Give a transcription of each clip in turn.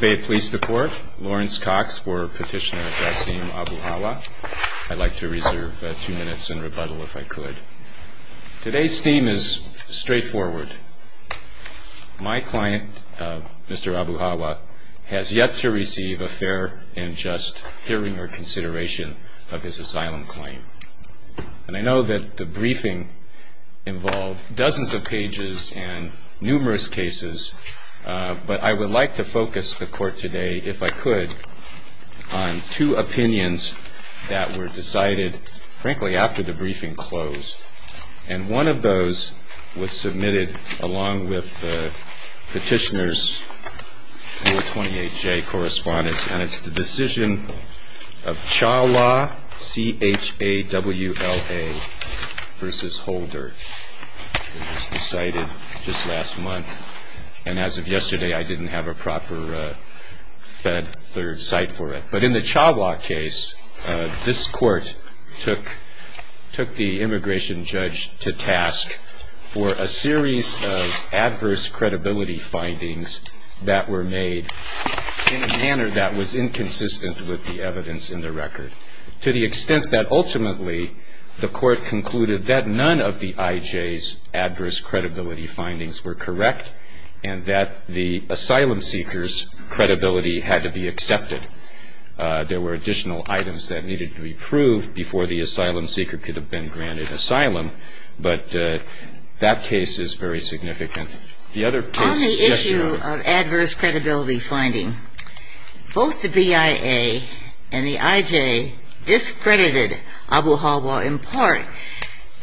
Today's theme is straightforward. My client, Mr. Abuhawa, has yet to receive a fair and just hearing or consideration of his asylum claim. I know that the briefing involved dozens of pages and numerous cases, but I would like to focus the court today, if I could, on two opinions that were decided, frankly, after the briefing closed. And one of those was submitted along with the petitioner's Rule 28J correspondence, and it's the decision of Chawla, C-H-A-W-L-A v. Holder. It was decided just last month, and as of yesterday, I didn't have a proper fed third site for it. But in the Chawla case, this court took the immigration judge to task for a series of adverse credibility findings that were made in a manner that was inconsistent with the evidence in the record, to the extent that ultimately the court concluded that none of the IJ's adverse credibility findings were correct and that the asylum seeker's credibility had to be accepted. There were additional items that needed to be proved before the asylum seeker could have been granted asylum, but that case is very significant. On the issue of adverse credibility finding, both the BIA and the IJ discredited Abu Hawa in part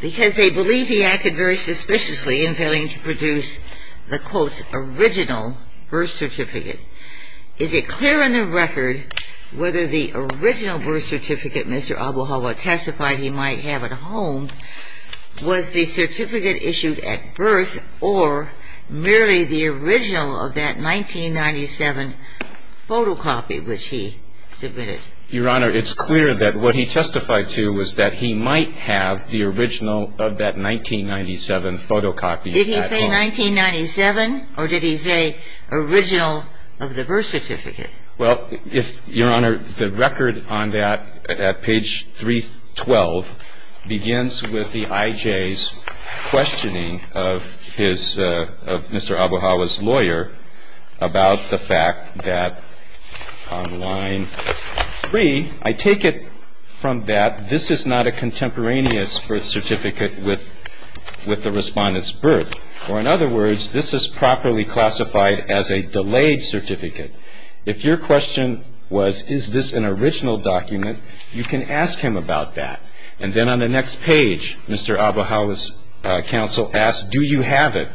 because they believed he acted very suspiciously in failing to produce the quote original birth certificate. Is it clear in the record whether the original birth certificate Mr. Abu Hawa testified he might have at home was the certificate issued at birth or merely the original of that 1997 photocopy which he submitted? Your Honor, it's clear that what he testified to was that he might have the original of that 1997 photocopy at home. Did he say 1997 or did he say original of the birth certificate? Well, if, Your Honor, the record on that at page 312 begins with the IJ's questioning of his, of Mr. Abu Hawa's lawyer about the fact that on line 3, I take it from that this is not a contemporaneous birth certificate with the respondent's birth. Or in other words, this is properly classified as a delayed certificate. If your question was, is this an original document, you can ask him about that. And then on the next page, Mr. Abu Hawa's counsel asked, do you have it?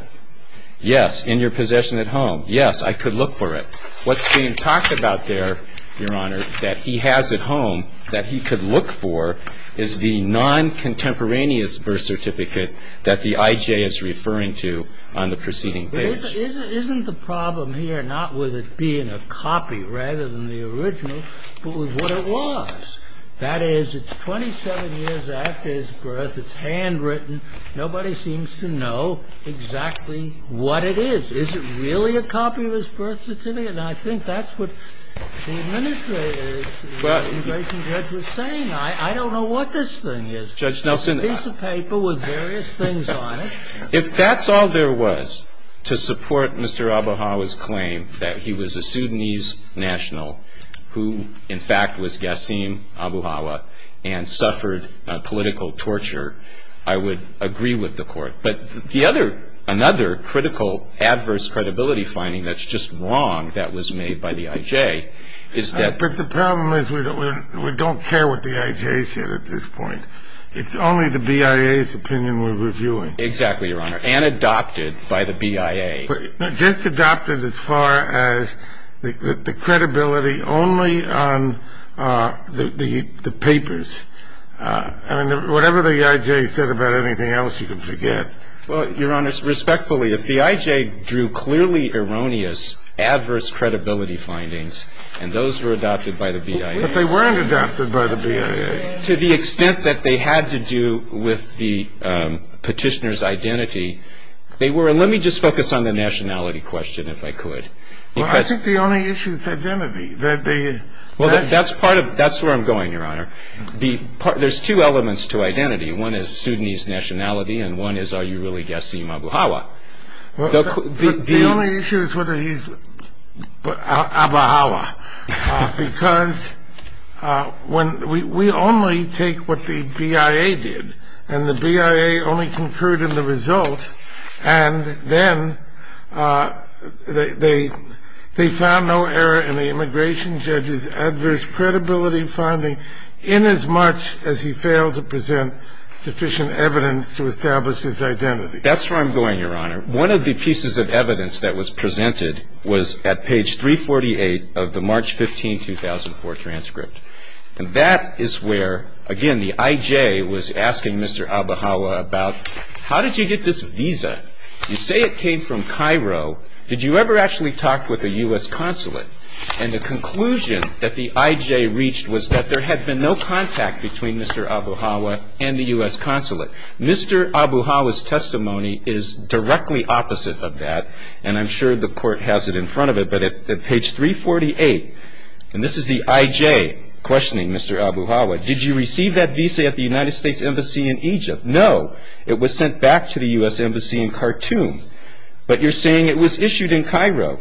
Yes, in your possession at home. Yes, I could look for it. What's being talked about there, Your Honor, that he has at home that he could look for is the non-contemporaneous birth certificate that the IJ is referring to on the preceding page. But isn't the problem here not with it being a copy rather than the original, but with what it was? That is, it's 27 years after his birth, it's handwritten, nobody seems to know exactly what it is. Is it really a copy of his birth certificate? Now, I think that's what the administrator, the immigration judge, was saying. I don't know what this thing is. Judge Nelson — It's a piece of paper with various things on it. If that's all there was to support Mr. Abu Hawa's claim that he was a Sudanese national who, in fact, was Ghassim Abu Hawa and suffered political torture, I would agree with the Court. But the other, another critical adverse credibility finding that's just wrong and I don't think that was made by the IJ is that — But the problem is we don't care what the IJ said at this point. It's only the BIA's opinion we're reviewing. Exactly, Your Honor. And adopted by the BIA. Just adopted as far as the credibility only on the papers. I mean, whatever the IJ said about anything else, you can forget. Well, Your Honor, respectfully, if the IJ drew clearly erroneous adverse credibility findings and those were adopted by the BIA — But they weren't adopted by the BIA. To the extent that they had to do with the petitioner's identity, they were — and let me just focus on the nationality question, if I could, because — Well, I think the only issue is identity. That the — Well, that's part of — that's where I'm going, Your Honor. The — there's two elements to identity. One is Sudanese nationality and one is, are you really guessing Abuhawa? The only issue is whether he's Abuhawa, because when — we only take what the BIA did and the BIA only concurred in the result and then they found no error in the immigration judge's adverse credibility finding in as much as he failed to present sufficient evidence to establish his identity. That's where I'm going, Your Honor. One of the pieces of evidence that was presented was at page 348 of the March 15, 2004, transcript. And that is where, again, the IJ was asking Mr. Abuhawa about, how did you get this visa? You say it came from Cairo. Did you ever actually talk with a U.S. consulate? And the conclusion that the IJ reached was that there had been no contact between Mr. Abuhawa and the U.S. consulate. Mr. Abuhawa's testimony is directly opposite of that, and I'm sure the Court has it in front of it. But at page 348, and this is the IJ questioning Mr. Abuhawa, did you receive that visa at the United States Embassy in Egypt? No. It was sent back to the U.S. Embassy in Khartoum. But you're saying it was issued in Cairo.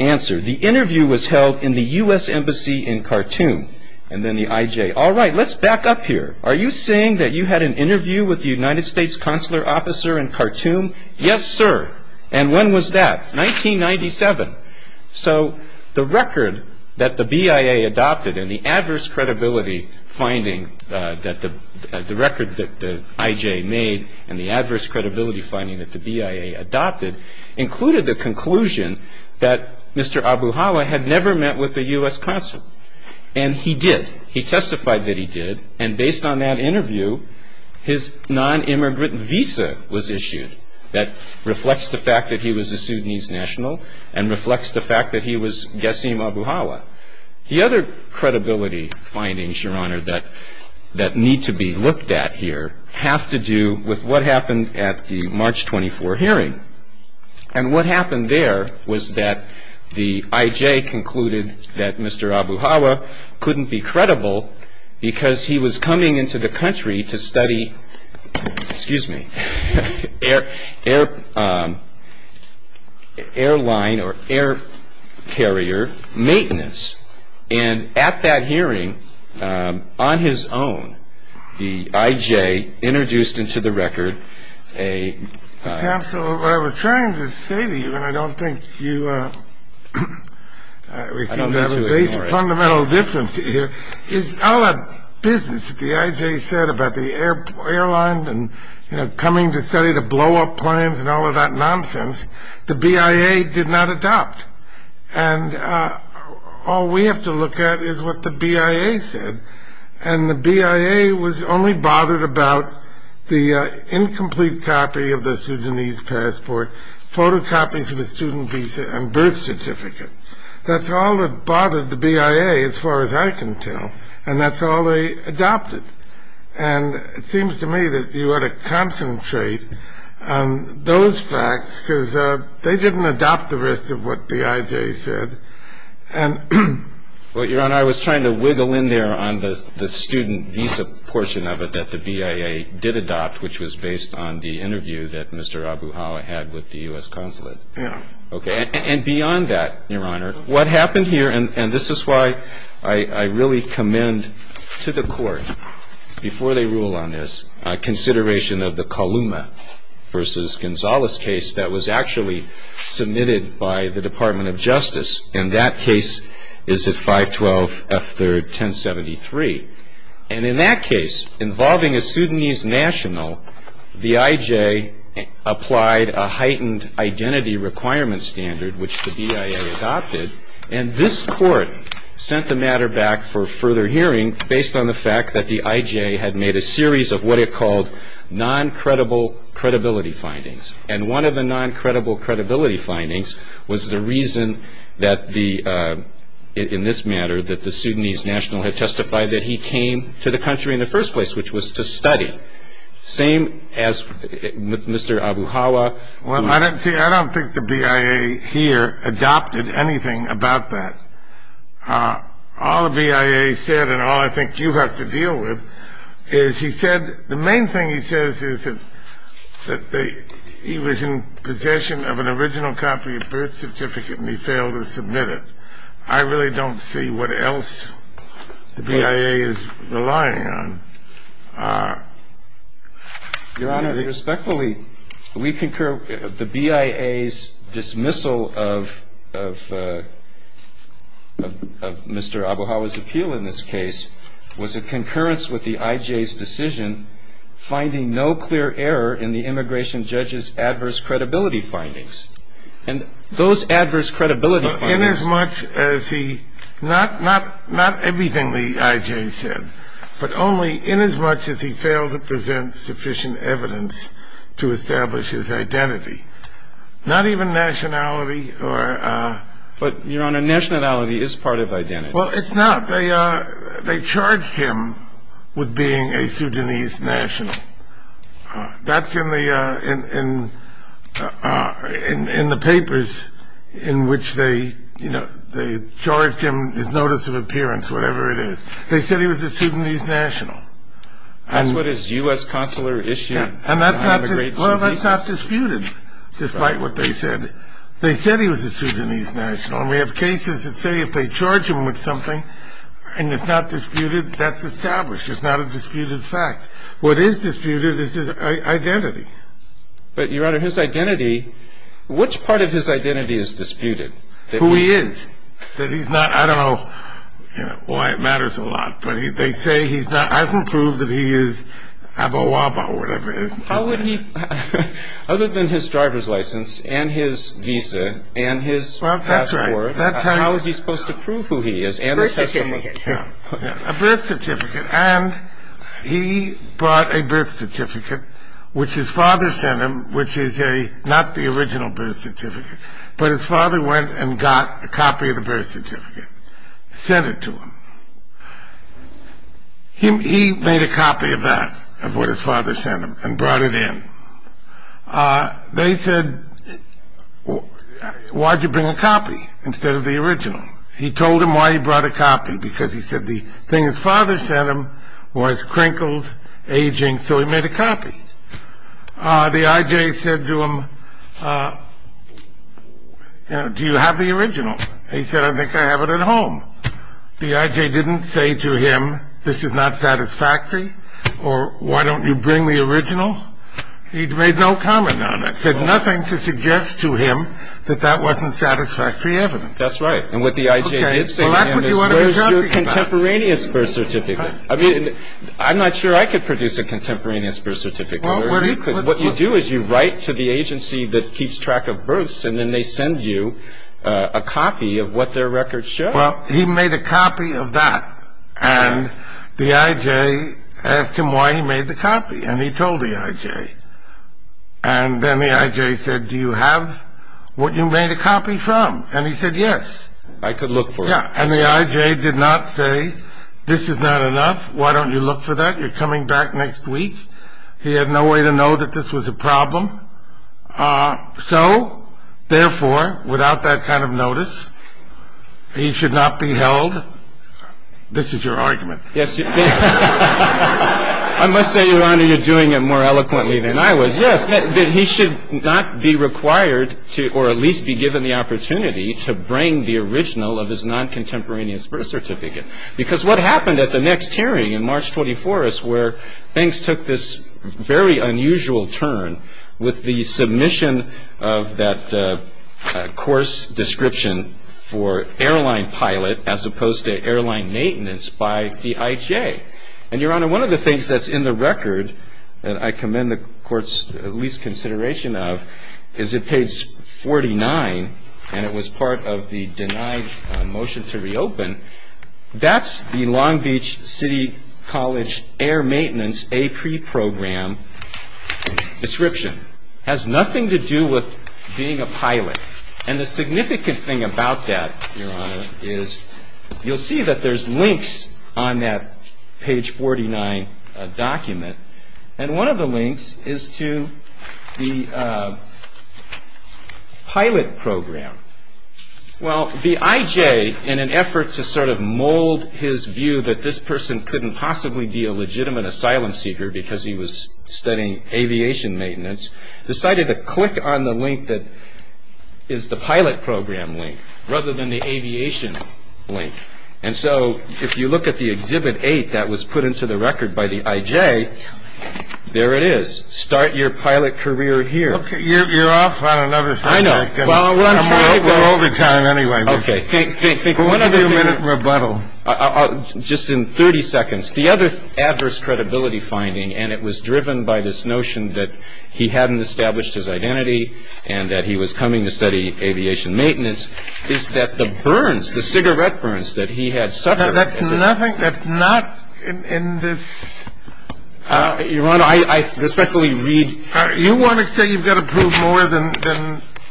Answer, the interview was held in the U.S. Embassy in Khartoum. And then the IJ, all right, let's back up here. Are you saying that you had an interview with the United States consular officer in Khartoum? Yes, sir. And when was that? 1997. So the record that the BIA adopted and the adverse credibility finding that the BIA adopted included the conclusion that Mr. Abuhawa had never met with the U.S. consulate. And he did. He testified that he did. And based on that interview, his non-immigrant visa was issued. That reflects the fact that he was a Sudanese national and reflects the fact that he was Ghassim Abuhawa. The other credibility findings, Your Honor, that need to be looked at here have to do with what happened at the March 24 hearing. And what happened there was that the IJ concluded that Mr. Abuhawa couldn't be credible because he was coming into the country to study, excuse me, airline or air carrier maintenance. And at that hearing, on his own, the IJ introduced into the record a... Counsel, what I was trying to say to you, and I don't think you received that base fundamental difference here, is all that business that the IJ said about the airline and coming to study to blow up planes and all of that nonsense, the BIA did not adopt. And all we have to look at is the incomplete copy of the Sudanese passport, photocopies of the student visa and birth certificate. That's all that bothered the BIA, as far as I can tell. And that's all they adopted. And it seems to me that you ought to concentrate on those facts, because they didn't adopt the rest of what the IJ said. Well, Your Honor, I was trying to wiggle in there on the student visa portion of it that the BIA did adopt, which was based on the interview that Mr. Abuhawa had with the U.S. Consulate. Okay. And beyond that, Your Honor, what happened here, and this is why I really commend to the Court, before they rule on this, consideration of the Columa v. Gonzalez case that was actually submitted by the Department of Justice. And that case is at 512 F. 3rd, 1073. And in that case, involving a Sudanese national, the IJ applied a heightened identity requirement standard, which the BIA adopted. And this Court sent the matter back for further hearing based on the fact that the IJ had made a series of what it called non-credible credibility findings. And one of the non-credible credibility findings was the reason that the, in this matter, that the Sudanese national had testified that he came to the country in the first place, which was to study. Same as with Mr. Abuhawa. Well, I don't think the BIA here adopted anything about that. All the BIA said, and all I think you have to deal with, is he said, the main thing he says is that he was in possession of an original copy of birth certificate, and he failed to submit it. I really don't see what else the BIA is relying on. Your Honor, respectfully, we concur. The BIA's dismissal of Mr. Abuhawa's appeal in this case was a concurrence with the IJ's decision, finding no clear error in the immigration judge's adverse credibility findings. And those adverse credibility findings... In as much as he, not everything the IJ said, but only in as much as he failed to present sufficient evidence to establish his identity. Not even nationality or... But Your Honor, nationality is part of identity. Well, it's not. They charged him with being a Sudanese national. That's in the, in the papers, in which they, you know, they charged him, his notice of appearance, whatever it is. They said he was a Sudanese national. That's what his U.S. consular issued. And that's not disputed, despite what they said. They said he was a Sudanese national, and we have cases that say if they charge him with something, and it's not disputed, that's established. It's not a disputed fact. What is disputed is his identity. But Your Honor, his identity, which part of his identity is disputed? Who he is. That he's not, I don't know why it matters a lot, but they say he's not, hasn't proved that he is Abawaba or whatever it is. How would he, other than his driver's license and his visa and his passport, how is he supposed to prove who he is and the testimony? A birth certificate. And he brought a birth certificate, which his father sent him, which is a, not the original birth certificate, but his father went and got a copy of the birth certificate, sent it to him. He made a copy of that, of what his father sent him, and brought it in. They said, why'd you bring a copy instead of the original? He told him why he brought a copy, because he said the thing his father sent him was crinkled, aging, so he made a copy. The I.J. said to him, do you have the original? He said, I think I have it at home. The I.J. didn't say to him, this is not satisfactory, or why don't you bring the original? He made no comment on it, said nothing to suggest to him that that wasn't satisfactory evidence. That's right. And what the I.J. did say to him is, where's your contemporaneous birth certificate? I mean, I'm not sure I could produce a contemporaneous birth certificate. What you do is you write to the agency that keeps track of births, and then they send you a copy of what their records show. Well, he made a copy of that, and the I.J. asked him why he made the copy, and he told the I.J. And then the I.J. said, do you have what you made a copy from? And he said yes. I could look for it. Yeah, and the I.J. did not say, this is not enough, why don't you look for that? You're coming back next week. He had no way to know that this was a problem. So, therefore, without that kind of notice, he should not be held. This is your argument. Yes. I must say, Your Honor, you're doing it more eloquently than I was. Yes, that he should not be required to, or at least be given the opportunity to bring the original of his non-contemporaneous birth certificate. Because what happened at the next hearing in March 24th is where things took this very unusual turn with the submission of that course description for airline pilot as opposed to airline maintenance by the I.J. And, Your Honor, one of the things that's in the record that I commend the Court's least consideration of is at page 49, and it was part of the denied motion to reopen, that's the Long Beach City College Air Maintenance A.P.R.E. Program description. It has nothing to do with being a pilot, and the significant thing about that, Your Honor, is you'll see that there's links on that page 49 document, and one of the links is to the pilot program. Well, the I.J., in an effort to sort of mold his view that this person couldn't possibly be a legitimate asylum seeker because he was studying aviation maintenance, decided to click on the link that is the pilot program link rather than the aviation link. And so, if you look at the Exhibit 8 that was put into the record by the I.J., there it is. Start your pilot career here. Okay, you're off on another subject. I know. Well, I'm running out of time anyway. Okay. Think, think, think. One minute rebuttal. Just in 30 seconds. The other adverse credibility finding, and it was driven by this notion that he hadn't established his identity and that he was coming to study aviation maintenance, is that the burns, the cigarette burns that he had suffered. That's nothing. That's not in this. Your Honor, I respectfully read. You want to say you've got to prove more than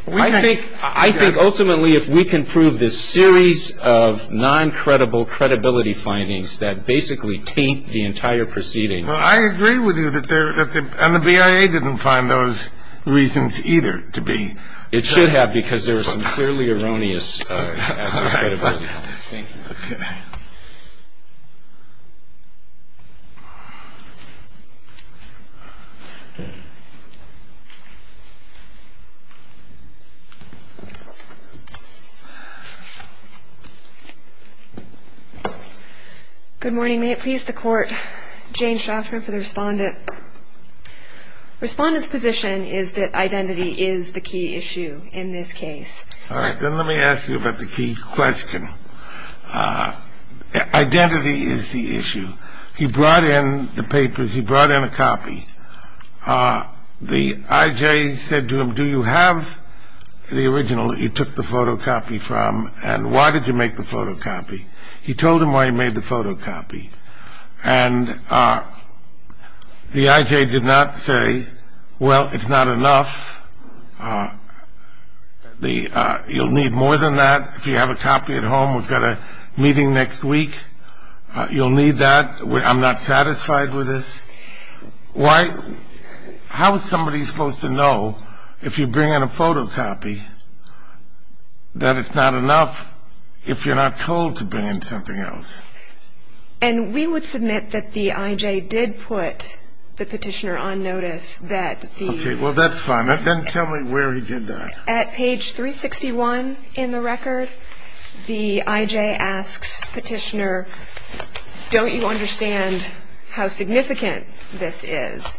we can. I think ultimately if we can prove this series of non-credible credibility findings that basically taint the entire proceeding, Well, I agree with you that there, and the BIA didn't find those reasons either to be. It should have because there was some clearly erroneous adverse credibility findings. Thank you. Okay. Good morning. May it please the Court. Jane Shofner for the Respondent. Respondent's position is that identity is the key issue in this case. All right. Then let me ask you about the key question. Identity is the issue. He brought in the papers. He brought in a copy. The I.J. said to him, do you have the original that you took the photocopy from, and why did you make the photocopy? He told him why he made the photocopy, and the I.J. did not say, well, it's not enough. You'll need more than that if you have a copy at home. We've got a meeting next week. You'll need that. I'm not satisfied with this. Why? How is somebody supposed to know if you bring in a photocopy that it's not enough if you're not told to bring in something else? And we would submit that the I.J. did put the petitioner on notice that the... Okay. Well, that's fine. Then tell me where he did that. At page 361 in the record, the I.J. asks petitioner, don't you understand how significant this is?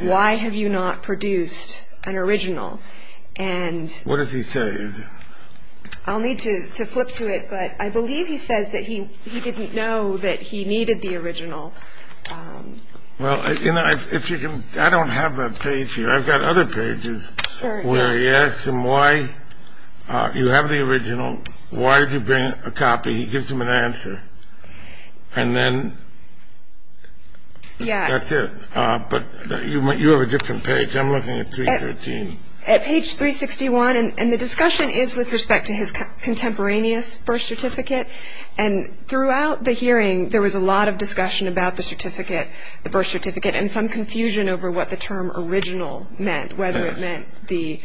Why have you not produced an original? And... What does he say? I'll need to flip to it, but I believe he says that he didn't know that he needed the original. Well, if you can... I don't have that page here. I've got other pages where he asks him why you have the original. Why did you bring a copy? He gives him an answer, and then that's it. But you have a different page. I'm looking at 313. At page 361, and the discussion is with respect to his contemporaneous birth certificate, and throughout the hearing, there was a lot of discussion about the certificate, the birth certificate, and some confusion over what the term original meant, whether it meant the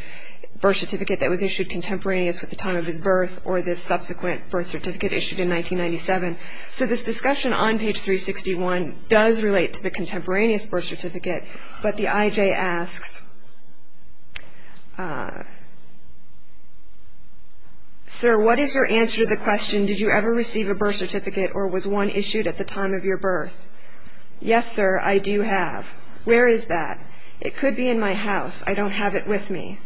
birth certificate that was issued contemporaneous with the time of his birth or this subsequent birth certificate issued in 1997. So this discussion on page 361 does relate to the contemporaneous birth certificate, but the I.J. asks, Sir, what is your answer to the question, did you ever receive a birth certificate or was one issued at the time of your birth? Yes, sir, I do have. Where is that? It could be in my house. I don't have it with me.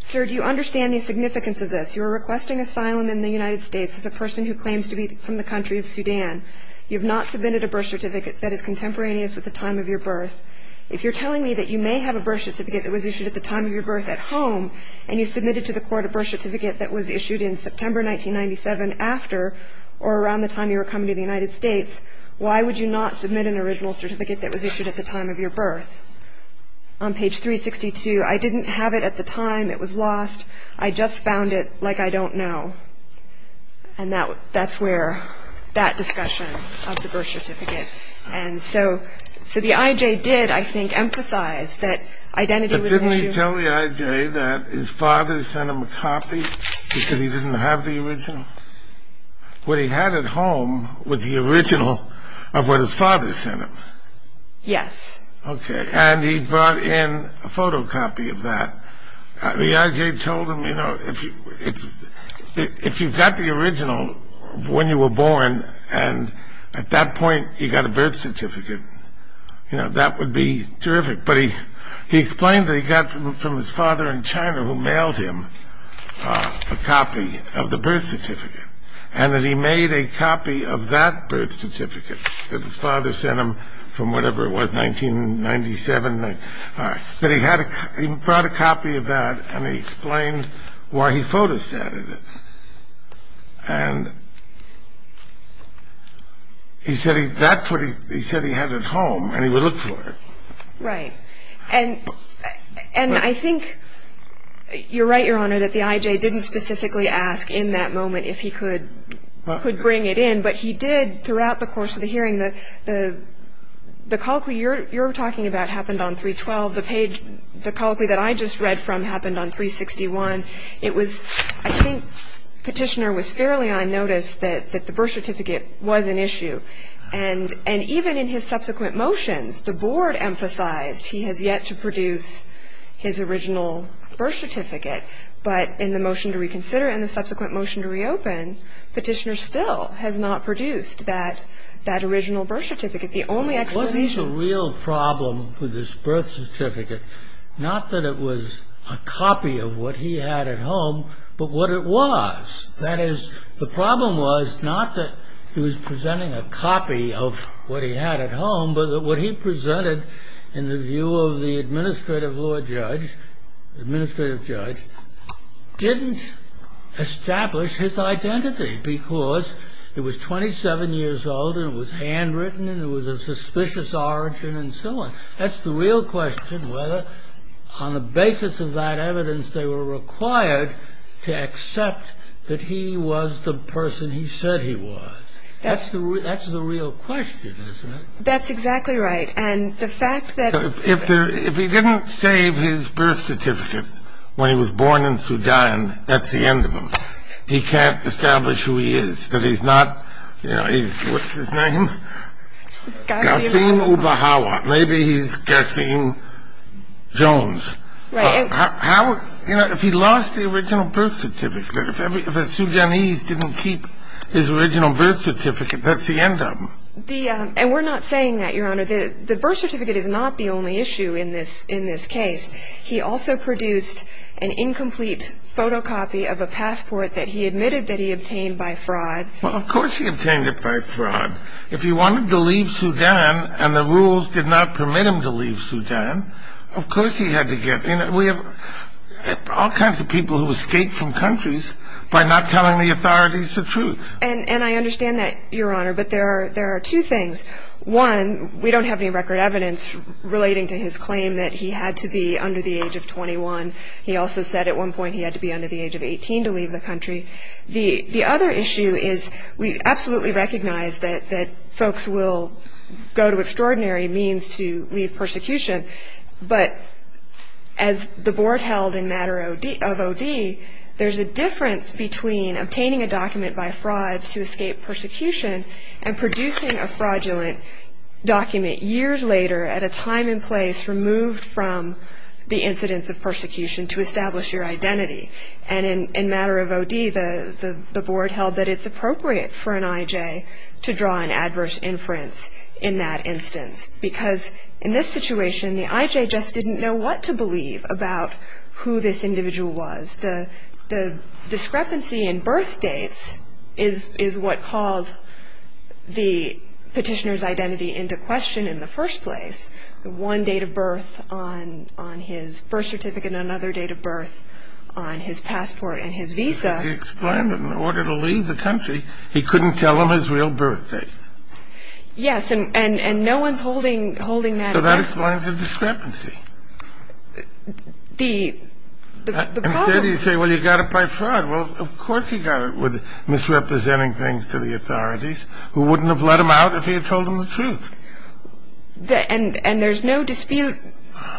Sir, do you understand the significance of this? You are requesting asylum in the United States as a person who claims to be from the country of Sudan. You have not submitted a birth certificate that is contemporaneous with the time of your birth. If you're telling me that you may have a birth certificate that was issued at the time of your birth at home and you submitted to the court a birth certificate that was issued in September 1997 after or around the time you were coming to the United States, why would you not submit an original certificate that was issued at the time of your birth? On page 362, I didn't have it at the time. It was lost. I just found it like I don't know. And that's where that discussion of the birth certificate. And so the I.J. did, I think, emphasize that identity was an issue. But didn't he tell the I.J. that his father sent him a copy because he didn't have the original? What he had at home was the original of what his father sent him. Yes. Okay, and he brought in a photocopy of that. The I.J. told him, you know, if you've got the original of when you were born and at that point you got a birth certificate, you know, that would be terrific. But he explained that he got from his father in China who mailed him a copy of the birth certificate and that he made a copy of that birth certificate that his father sent him from whatever it was, 1997. But he brought a copy of that and he explained why he photostatted it. And he said that's what he said he had at home and he would look for it. Right. And I think you're right, Your Honor, that the I.J. didn't specifically ask in that moment if he could bring it in. But he did throughout the course of the hearing. The colloquy you're talking about happened on 312. The page, the colloquy that I just read from happened on 361. It was, I think Petitioner was fairly unnoticed that the birth certificate was an issue. And even in his subsequent motions, the board emphasized he has yet to produce his original birth certificate. But in the motion to reconsider and the subsequent motion to reopen, Petitioner still has not produced that original birth certificate. There was a real problem with this birth certificate. Not that it was a copy of what he had at home, but what it was. That is, the problem was not that he was presenting a copy of what he had at home, but that what he presented in the view of the administrative law judge, the administrative judge, didn't establish his identity because it was 27 years old and it was handwritten and it was of suspicious origin and so on. That's the real question, whether, on the basis of that evidence, they were required to accept that he was the person he said he was. That's the real question, isn't it? That's exactly right. And the fact that... If he didn't save his birth certificate when he was born in Sudan, that's the end of him. He can't establish who he is. That he's not, you know, he's... What's his name? Gassim... Gassim Oubahawa. Maybe he's Gassim Jones. Right. How... You know, if he lost the original birth certificate, if a Sudanese didn't keep his original birth certificate, that's the end of him. The... And we're not saying that, Your Honor. The birth certificate is not the only issue in this case. He also produced an incomplete photocopy of a passport that he admitted that he obtained by fraud. Well, of course he obtained it by fraud. If he wanted to leave Sudan and the rules did not permit him to leave Sudan, of course he had to get... You know, we have all kinds of people who escape from countries by not telling the authorities the truth. And I understand that, Your Honor, but there are two things. One, we don't have any record evidence relating to his claim that he had to be under the age of 21. He also said at one point he had to be under the age of 18 to leave the country. The other issue is we absolutely recognize that folks will go to extraordinary means to leave persecution, but as the Board held in matter of OD, there's a difference between obtaining a document by fraud to escape persecution and producing a fraudulent document years later at a time and place removed from the incidents of persecution to establish your identity. And in matter of OD, the Board held that it's appropriate for an IJ to draw an adverse inference in that instance because in this situation, the IJ just didn't know what to believe about who this individual was, because the discrepancy in birth dates is what called the petitioner's identity into question in the first place. One date of birth on his birth certificate and another date of birth on his passport and his visa. He explained that in order to leave the country, he couldn't tell them his real birth date. Yes, and no one's holding that against him. So that explains the discrepancy. Instead, he'd say, well, you got it by fraud. Well, of course he got it with misrepresenting things to the authorities who wouldn't have let him out if he had told them the truth. And there's no dispute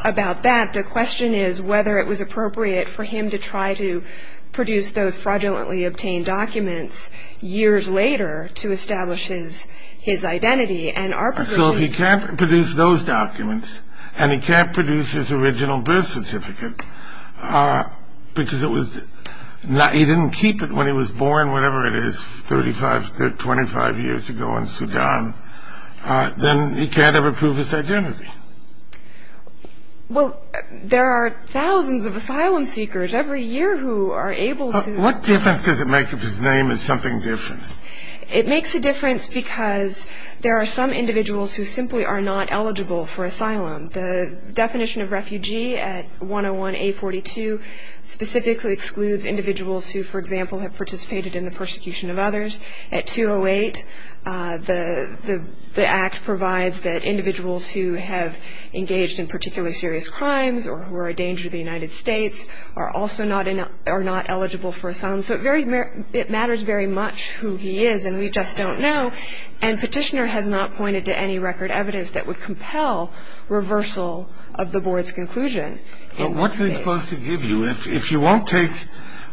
about that. The question is whether it was appropriate for him to try to produce those fraudulently obtained documents years later to establish his identity and our position. So if he can't produce those documents and he can't produce his original birth certificate because he didn't keep it when he was born, whatever it is, 25 years ago in Sudan, then he can't ever prove his identity. Well, there are thousands of asylum seekers every year who are able to. What difference does it make if his name is something different? It makes a difference because there are some individuals who simply are not eligible for asylum. The definition of refugee at 101A42 specifically excludes individuals who, for example, have participated in the persecution of others. At 208, the Act provides that individuals who have engaged in particularly serious crimes or who are a danger to the United States are also not eligible for asylum. So it matters very much who he is, and we just don't know. And Petitioner has not pointed to any record evidence that would compel reversal of the Board's conclusion. What's it supposed to give you if you won't take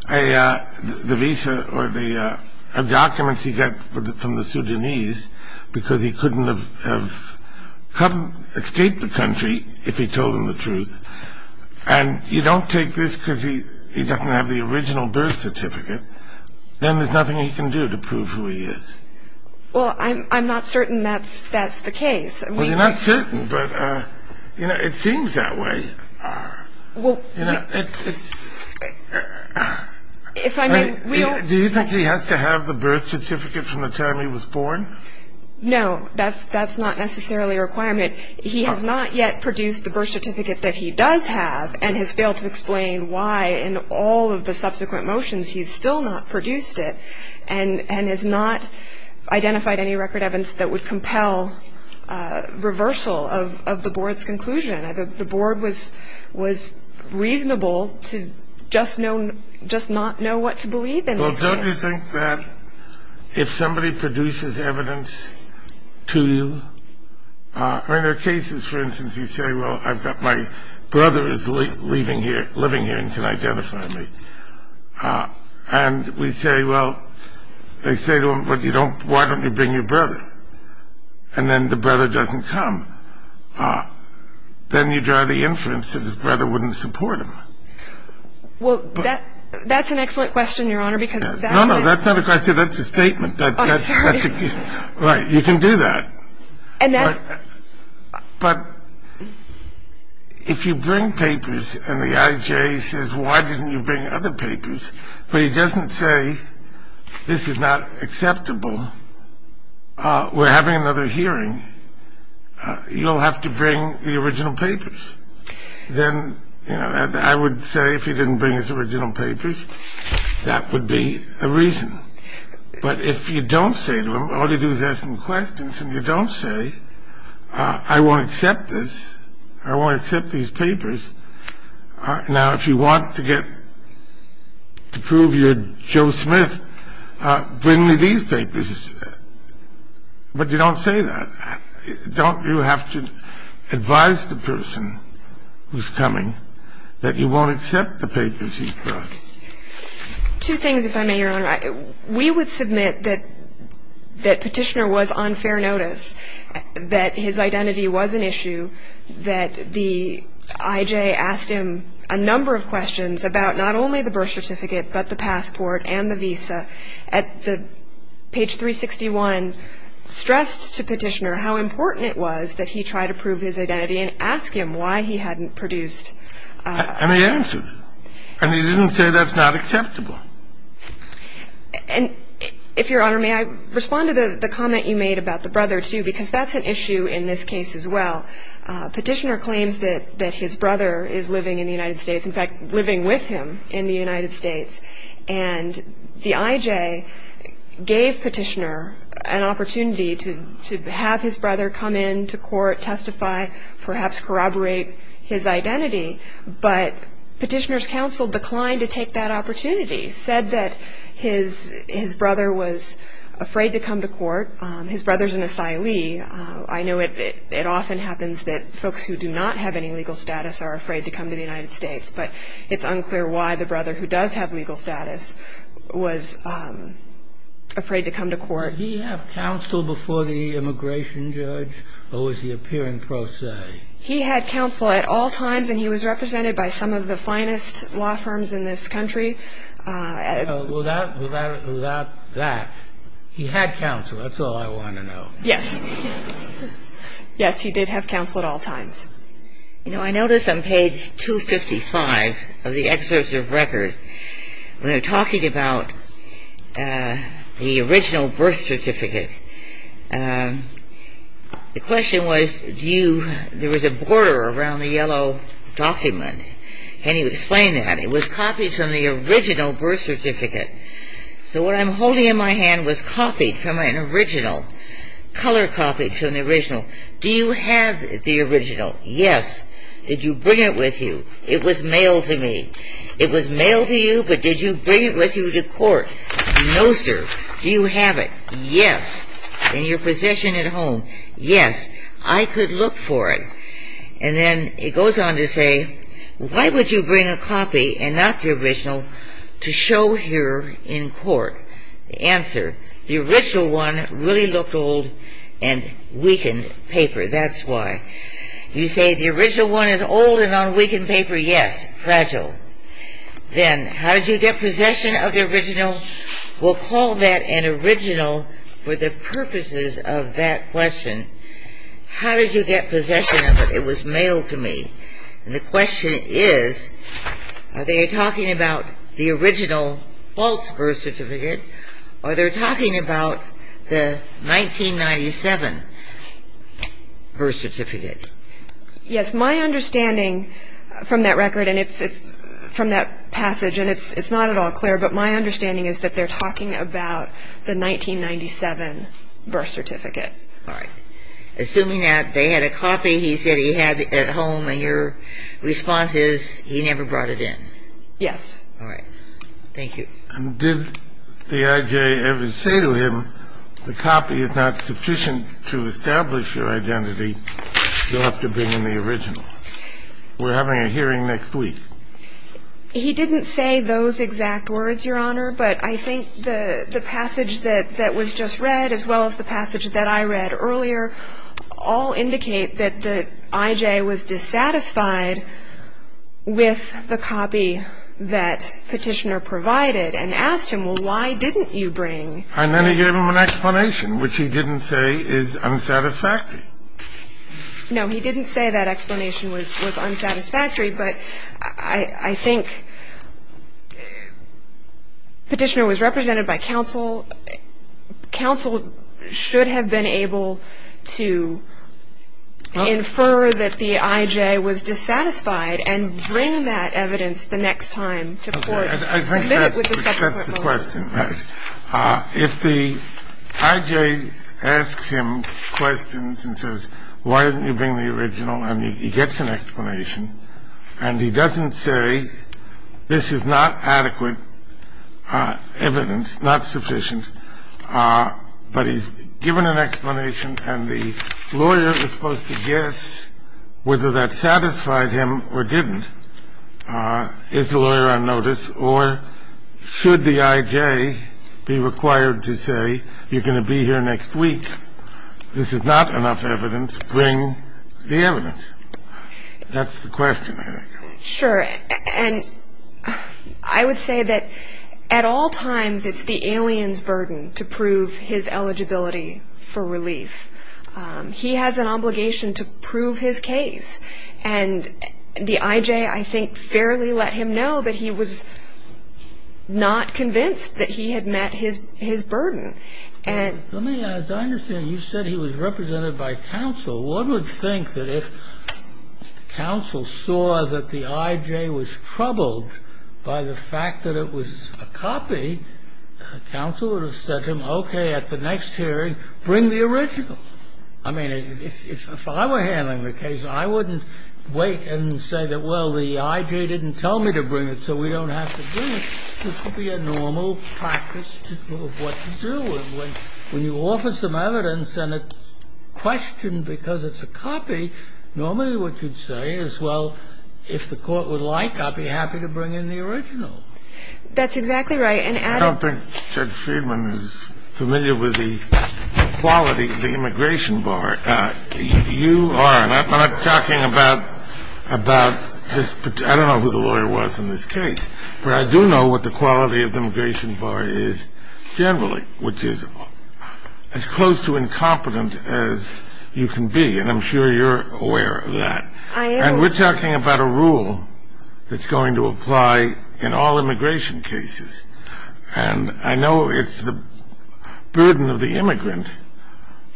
the visa or the documents he got from the Sudanese because he couldn't have escaped the country if he told them the truth, and you don't take this because he doesn't have the original birth certificate, then there's nothing he can do to prove who he is. Well, I'm not certain that's the case. Well, you're not certain, but, you know, it seems that way. Do you think he has to have the birth certificate from the time he was born? No, that's not necessarily a requirement. He has not yet produced the birth certificate that he does have and has failed to explain why in all of the subsequent motions he's still not produced it and has not identified any record evidence that would compel reversal of the Board's conclusion. The Board was reasonable to just not know what to believe in this case. Don't you think that if somebody produces evidence to you, I mean, there are cases, for instance, you say, well, I've got my brother is leaving here, living here and can identify me, and we say, well, they say to him, well, why don't you bring your brother? And then the brother doesn't come. Then you draw the inference that his brother wouldn't support him. Well, that's an excellent question, Your Honor, because that's it. No, no, that's not a question. That's a statement. I'm sorry. Right. You can do that. But if you bring papers and the IJ says, well, why didn't you bring other papers, but he doesn't say this is not acceptable, we're having another hearing, you'll have to bring the original papers. Then, you know, I would say if he didn't bring his original papers, that would be a reason. But if you don't say to him, all you do is ask him questions and you don't say, I won't accept this, I won't accept these papers. Now, if you want to get to prove you're Joe Smith, bring me these papers. But you don't say that. Don't you have to advise the person who's coming that you won't accept the papers he brought? Two things, if I may, Your Honor. We would submit that Petitioner was on fair notice, that his identity was an issue, that the IJ asked him a number of questions about not only the birth certificate but the passport and the visa. And the IJ, at page 361, stressed to Petitioner how important it was that he try to prove his identity and ask him why he hadn't produced. And he answered. And he didn't say that's not acceptable. And, if Your Honor, may I respond to the comment you made about the brother, too, because that's an issue in this case as well. Petitioner claims that his brother is living in the United States, in fact, living with him in the United States. And the IJ gave Petitioner an opportunity to have his brother come in to court, testify, perhaps corroborate his identity. But Petitioner's counsel declined to take that opportunity, said that his brother was afraid to come to court. His brother's an asylee. I know it often happens that folks who do not have any legal status are afraid to come to the United States. But it's unclear why the brother who does have legal status was afraid to come to court. Did he have counsel before the immigration judge, or was he appearing pro se? He had counsel at all times, and he was represented by some of the finest law firms in this country. Without that, he had counsel. That's all I want to know. Yes. Yes, he did have counsel at all times. You know, I noticed on page 255 of the excerpts of record, when they're talking about the original birth certificate, the question was, there was a border around the yellow document. Can you explain that? It was copied from the original birth certificate. So what I'm holding in my hand was copied from an original, color copied from the original. Do you have the original? Yes. Did you bring it with you? It was mailed to me. It was mailed to you, but did you bring it with you to court? No, sir. Do you have it? Yes. In your possession at home? Yes. I could look for it. Answer. The original one really looked old and weakened paper. That's why. You say the original one is old and on weakened paper. Yes. Fragile. Then, how did you get possession of the original? We'll call that an original for the purposes of that question. How did you get possession of it? It was mailed to me. And the question is, are they talking about the original false birth certificate or are they talking about the 1997 birth certificate? Yes. My understanding from that record and from that passage, and it's not at all clear, but my understanding is that they're talking about the 1997 birth certificate. All right. Assuming that they had a copy he said he had at home, and your response is he never brought it in. Yes. All right. Thank you. And did D.I.J. ever say to him, the copy is not sufficient to establish your identity, you'll have to bring in the original? We're having a hearing next week. He didn't say those exact words, Your Honor, but I think the passage that was just read as well as the passage that I read earlier all indicate that D.I.J. was dissatisfied with the copy that Petitioner provided and asked him, well, why didn't you bring? And then he gave him an explanation, which he didn't say is unsatisfactory. No, he didn't say that explanation was unsatisfactory, but I think Petitioner was represented by counsel. Counsel should have been able to infer that the I.J. was dissatisfied and bring that evidence the next time to court. I think that's the question. If the I.J. asks him questions and says, why didn't you bring the original, and he gets an explanation and he doesn't say this is not adequate evidence, not sufficient, but he's given an explanation and the lawyer is supposed to guess whether that satisfied him or didn't. Is the lawyer on notice or should the I.J. be required to say, you're going to be here next week, this is not enough evidence, bring the evidence? That's the question, I think. Sure. And I would say that at all times it's the alien's burden to prove his eligibility for relief. He has an obligation to prove his case. And the I.J., I think, fairly let him know that he was not convinced that he had met his burden. Let me ask, I understand you said he was represented by counsel. One would think that if counsel saw that the I.J. was troubled by the fact that it was a copy, counsel would have said to him, okay, at the next hearing, bring the original. I mean, if I were handling the case, I wouldn't wait and say that, well, the I.J. didn't tell me to bring it, so we don't have to bring it. I don't think Judge Friedman is familiar with the quality of the immigration bar. You are, and I'm not talking about this particular – I don't know who the lawyer was in this case, immigration bar is generally, which is as close to incompetent as you can be. And I'm sure you're aware of that. I am. And we're talking about a rule that's going to apply in all immigration cases. And I know it's the burden of the immigrant,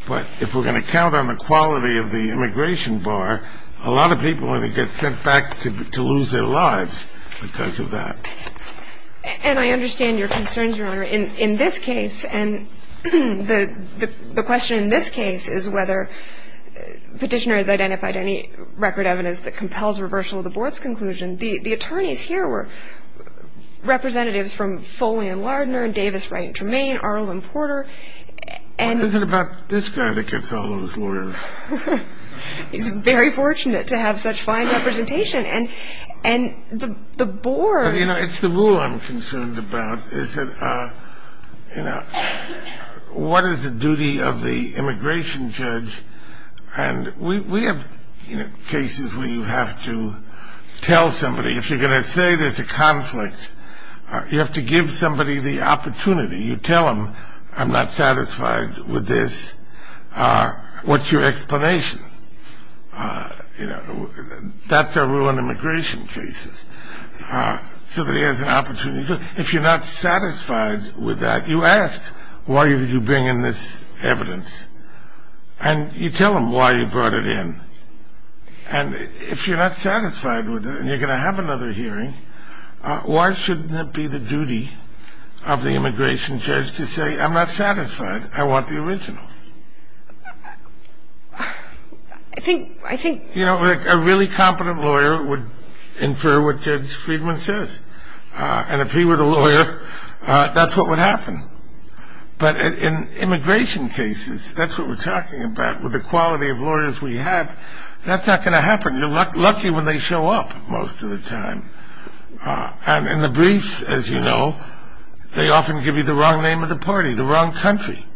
but if we're going to count on the quality of the immigration bar, it's going to be a lot of people are going to get sent back to lose their lives because of that. And I understand your concerns, Your Honor. In this case, and the question in this case is whether Petitioner has identified any record evidence that compels reversal of the board's conclusion, the attorneys here were representatives from Foley & Lardner and Davis Wright & Tremaine, Arlen Porter, and – What is it about this guy that gets all of those lawyers? He's very fortunate to have such fine representation. And the board – You know, it's the rule I'm concerned about is that, you know, what is the duty of the immigration judge? And we have, you know, cases where you have to tell somebody, if you're going to say there's a conflict, you have to give somebody the opportunity. You tell them, I'm not satisfied with this. What's your explanation? You know, that's the rule in immigration cases. Somebody has an opportunity. If you're not satisfied with that, you ask, why did you bring in this evidence? And you tell them why you brought it in. And if you're not satisfied with it and you're going to have another hearing, why shouldn't it be the duty of the immigration judge to say, I'm not satisfied. I want the original. I think – You know, a really competent lawyer would infer what Judge Friedman says. And if he were the lawyer, that's what would happen. But in immigration cases, that's what we're talking about. With the quality of lawyers we have, that's not going to happen. You're lucky when they show up most of the time. And in the briefs, as you know, they often give you the wrong name of the party, the wrong country.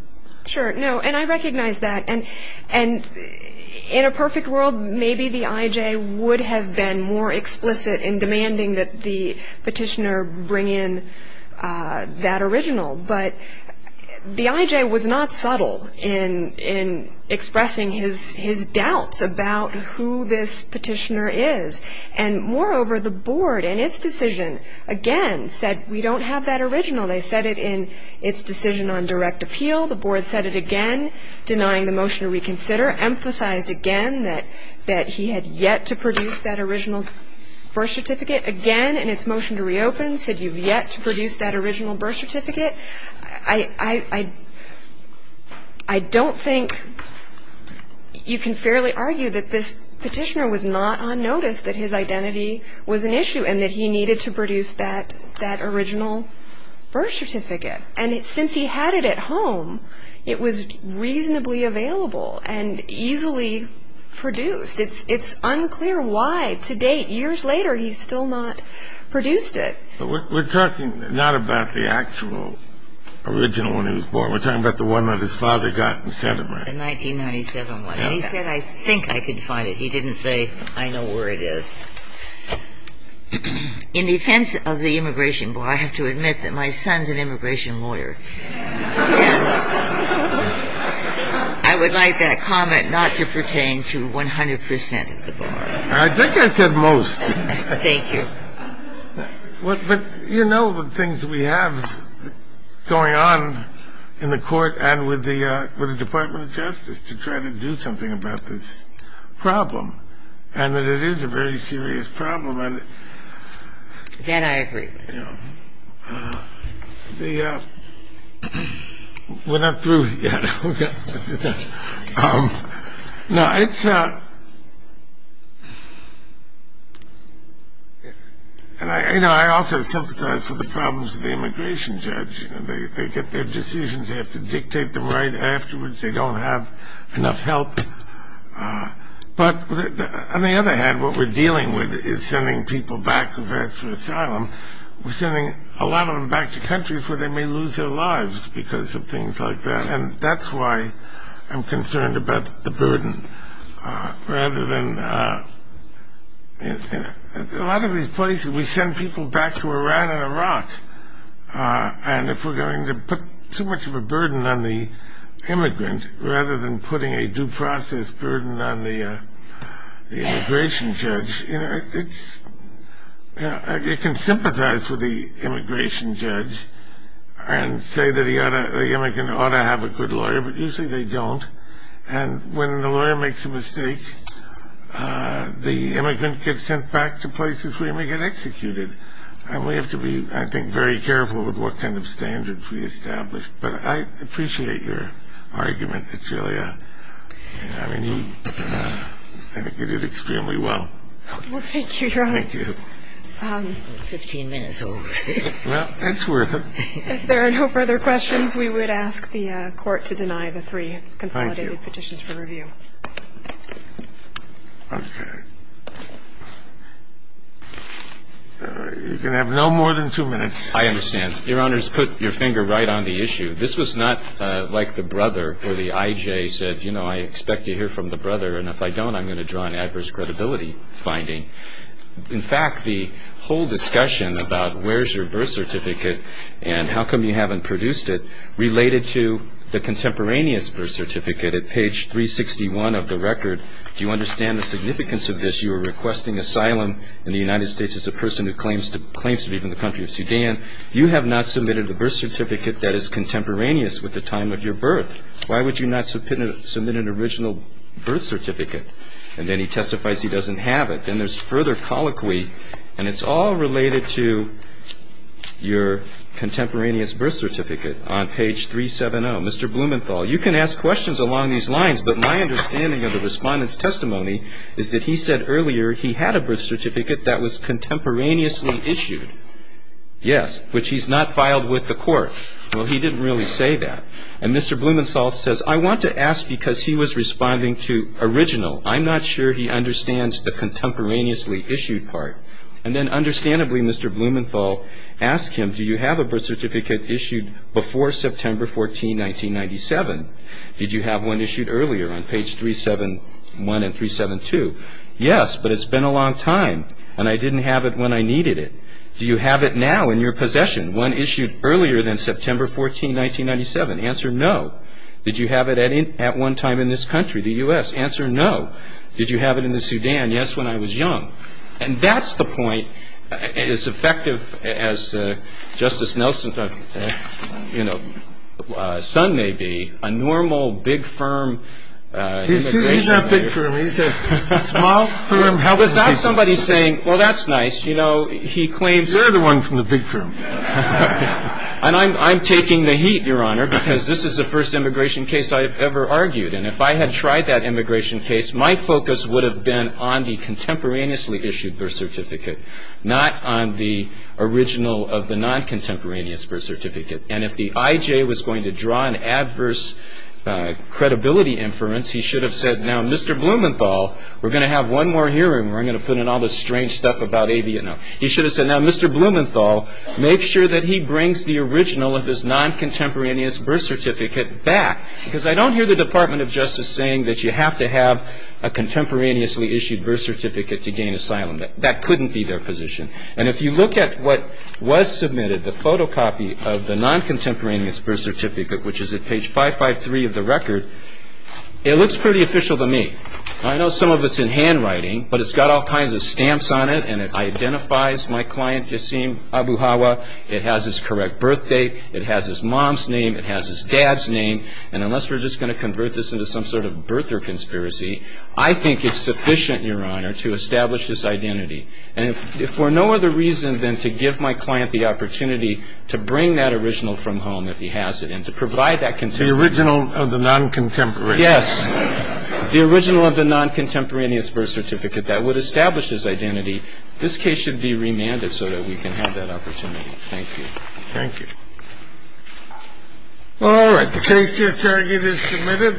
Sure. No, and I recognize that. And in a perfect world, maybe the IJ would have been more explicit in demanding that the petitioner bring in that original. But the IJ was not subtle in expressing his doubts about who this petitioner is. And moreover, the board, in its decision, again, said we don't have that original. They said it in its decision on direct appeal. The board said it again, denying the motion to reconsider, emphasized again that he had yet to produce that original birth certificate, denied it again in its motion to reopen, said you've yet to produce that original birth certificate. I don't think you can fairly argue that this petitioner was not on notice that his identity was an issue and that he needed to produce that original birth certificate. And since he had it at home, it was reasonably available and easily produced. It's unclear why, to date, years later, he's still not produced it. We're talking not about the actual original when he was born. We're talking about the one that his father got and sent him, right? The 1997 one. And he said, I think I could find it. He didn't say, I know where it is. In defense of the immigration board, I have to admit that my son's an immigration lawyer. And I would like that comment not to pertain to 100 percent of the board. I think I said most. Thank you. But you know the things we have going on in the court and with the Department of Justice to try to do something about this problem and that it is a very serious problem. That I agree with. We're not through yet. No, it's not. And I also sympathize with the problems of the immigration judge. They get their decisions. They have to dictate them right afterwards. They don't have enough help. But on the other hand, what we're dealing with is sending people back for asylum. We're sending a lot of them back to countries where they may lose their lives because of things like that. And that's why I'm concerned about the burden. Rather than a lot of these places, we send people back to Iran and Iraq. And if we're going to put too much of a burden on the immigrant, rather than putting a due process burden on the immigration judge, it can sympathize with the immigration judge and say that the immigrant ought to have a good lawyer. But usually they don't. And when the lawyer makes a mistake, the immigrant gets sent back to places where he may get executed. And we have to be, I think, very careful with what kind of standards we establish. But I appreciate your argument. It's really a – I mean, you – I think you did extremely well. Well, thank you, Your Honor. Thank you. Fifteen minutes old. Well, it's worth it. If there are no further questions, we would ask the Court to deny the three consolidated petitions for review. Thank you. Okay. You're going to have no more than two minutes. I understand. Your Honors, put your finger right on the issue. This was not like the brother where the I.J. said, you know, I expect to hear from the brother, and if I don't, I'm going to draw an adverse credibility finding. In fact, the whole discussion about where's your birth certificate and how come you haven't produced it related to the contemporaneous birth certificate at page 361 of the record. Do you understand the significance of this? You are requesting asylum in the United States as a person who claims to be from the country of Sudan. You have not submitted a birth certificate that is contemporaneous with the time of your birth. Why would you not submit an original birth certificate? And then he testifies he doesn't have it. Then there's further colloquy, and it's all related to your contemporaneous birth certificate on page 370. Mr. Blumenthal, you can ask questions along these lines, but my understanding of the respondent's testimony is that he said earlier he had a birth certificate that was contemporaneously issued. Yes, which he's not filed with the court. Well, he didn't really say that. And Mr. Blumenthal says I want to ask because he was responding to original. I'm not sure he understands the contemporaneously issued part. And then understandably, Mr. Blumenthal asked him, do you have a birth certificate issued before September 14, 1997? Did you have one issued earlier on page 371 and 372? Yes, but it's been a long time, and I didn't have it when I needed it. Do you have it now in your possession, one issued earlier than September 14, 1997? Answer, no. Did you have it at one time in this country, the U.S.? Answer, no. Did you have it in the Sudan? Yes, when I was young. And that's the point. As effective as Justice Nelson's, you know, son may be, a normal, big firm immigration lawyer — He's not big firm. He's a small firm — But that's somebody saying, well, that's nice. You know, he claims — You're the one from the big firm. And I'm taking the heat, Your Honor, because this is the first immigration case I've ever argued. And if I had tried that immigration case, my focus would have been on the contemporaneously issued birth certificate, not on the original of the non-contemporaneous birth certificate. And if the I.J. was going to draw an adverse credibility inference, he should have said, Now, Mr. Blumenthal, we're going to have one more hearing where I'm going to put in all this strange stuff about — No. He should have said, Now, Mr. Blumenthal, make sure that he brings the original of his non-contemporaneous birth certificate back. Because I don't hear the Department of Justice saying that you have to have a contemporaneously issued birth certificate to gain asylum. That couldn't be their position. And if you look at what was submitted, the photocopy of the non-contemporaneous birth certificate, which is at page 553 of the record, it looks pretty official to me. I know some of it's in handwriting, but it's got all kinds of stamps on it. And it identifies my client, Yasim Abu Hawa. It has his correct birth date. It has his mom's name. It has his dad's name. And unless we're just going to convert this into some sort of birther conspiracy, I think it's sufficient, Your Honor, to establish this identity. And if for no other reason than to give my client the opportunity to bring that original from home, if he has it, and to provide that — The original of the non-contemporaneous. Yes. The original of the non-contemporaneous birth certificate that would establish this identity, this case should be remanded so that we can have that opportunity. Thank you. Thank you. All right. The case here is submitted.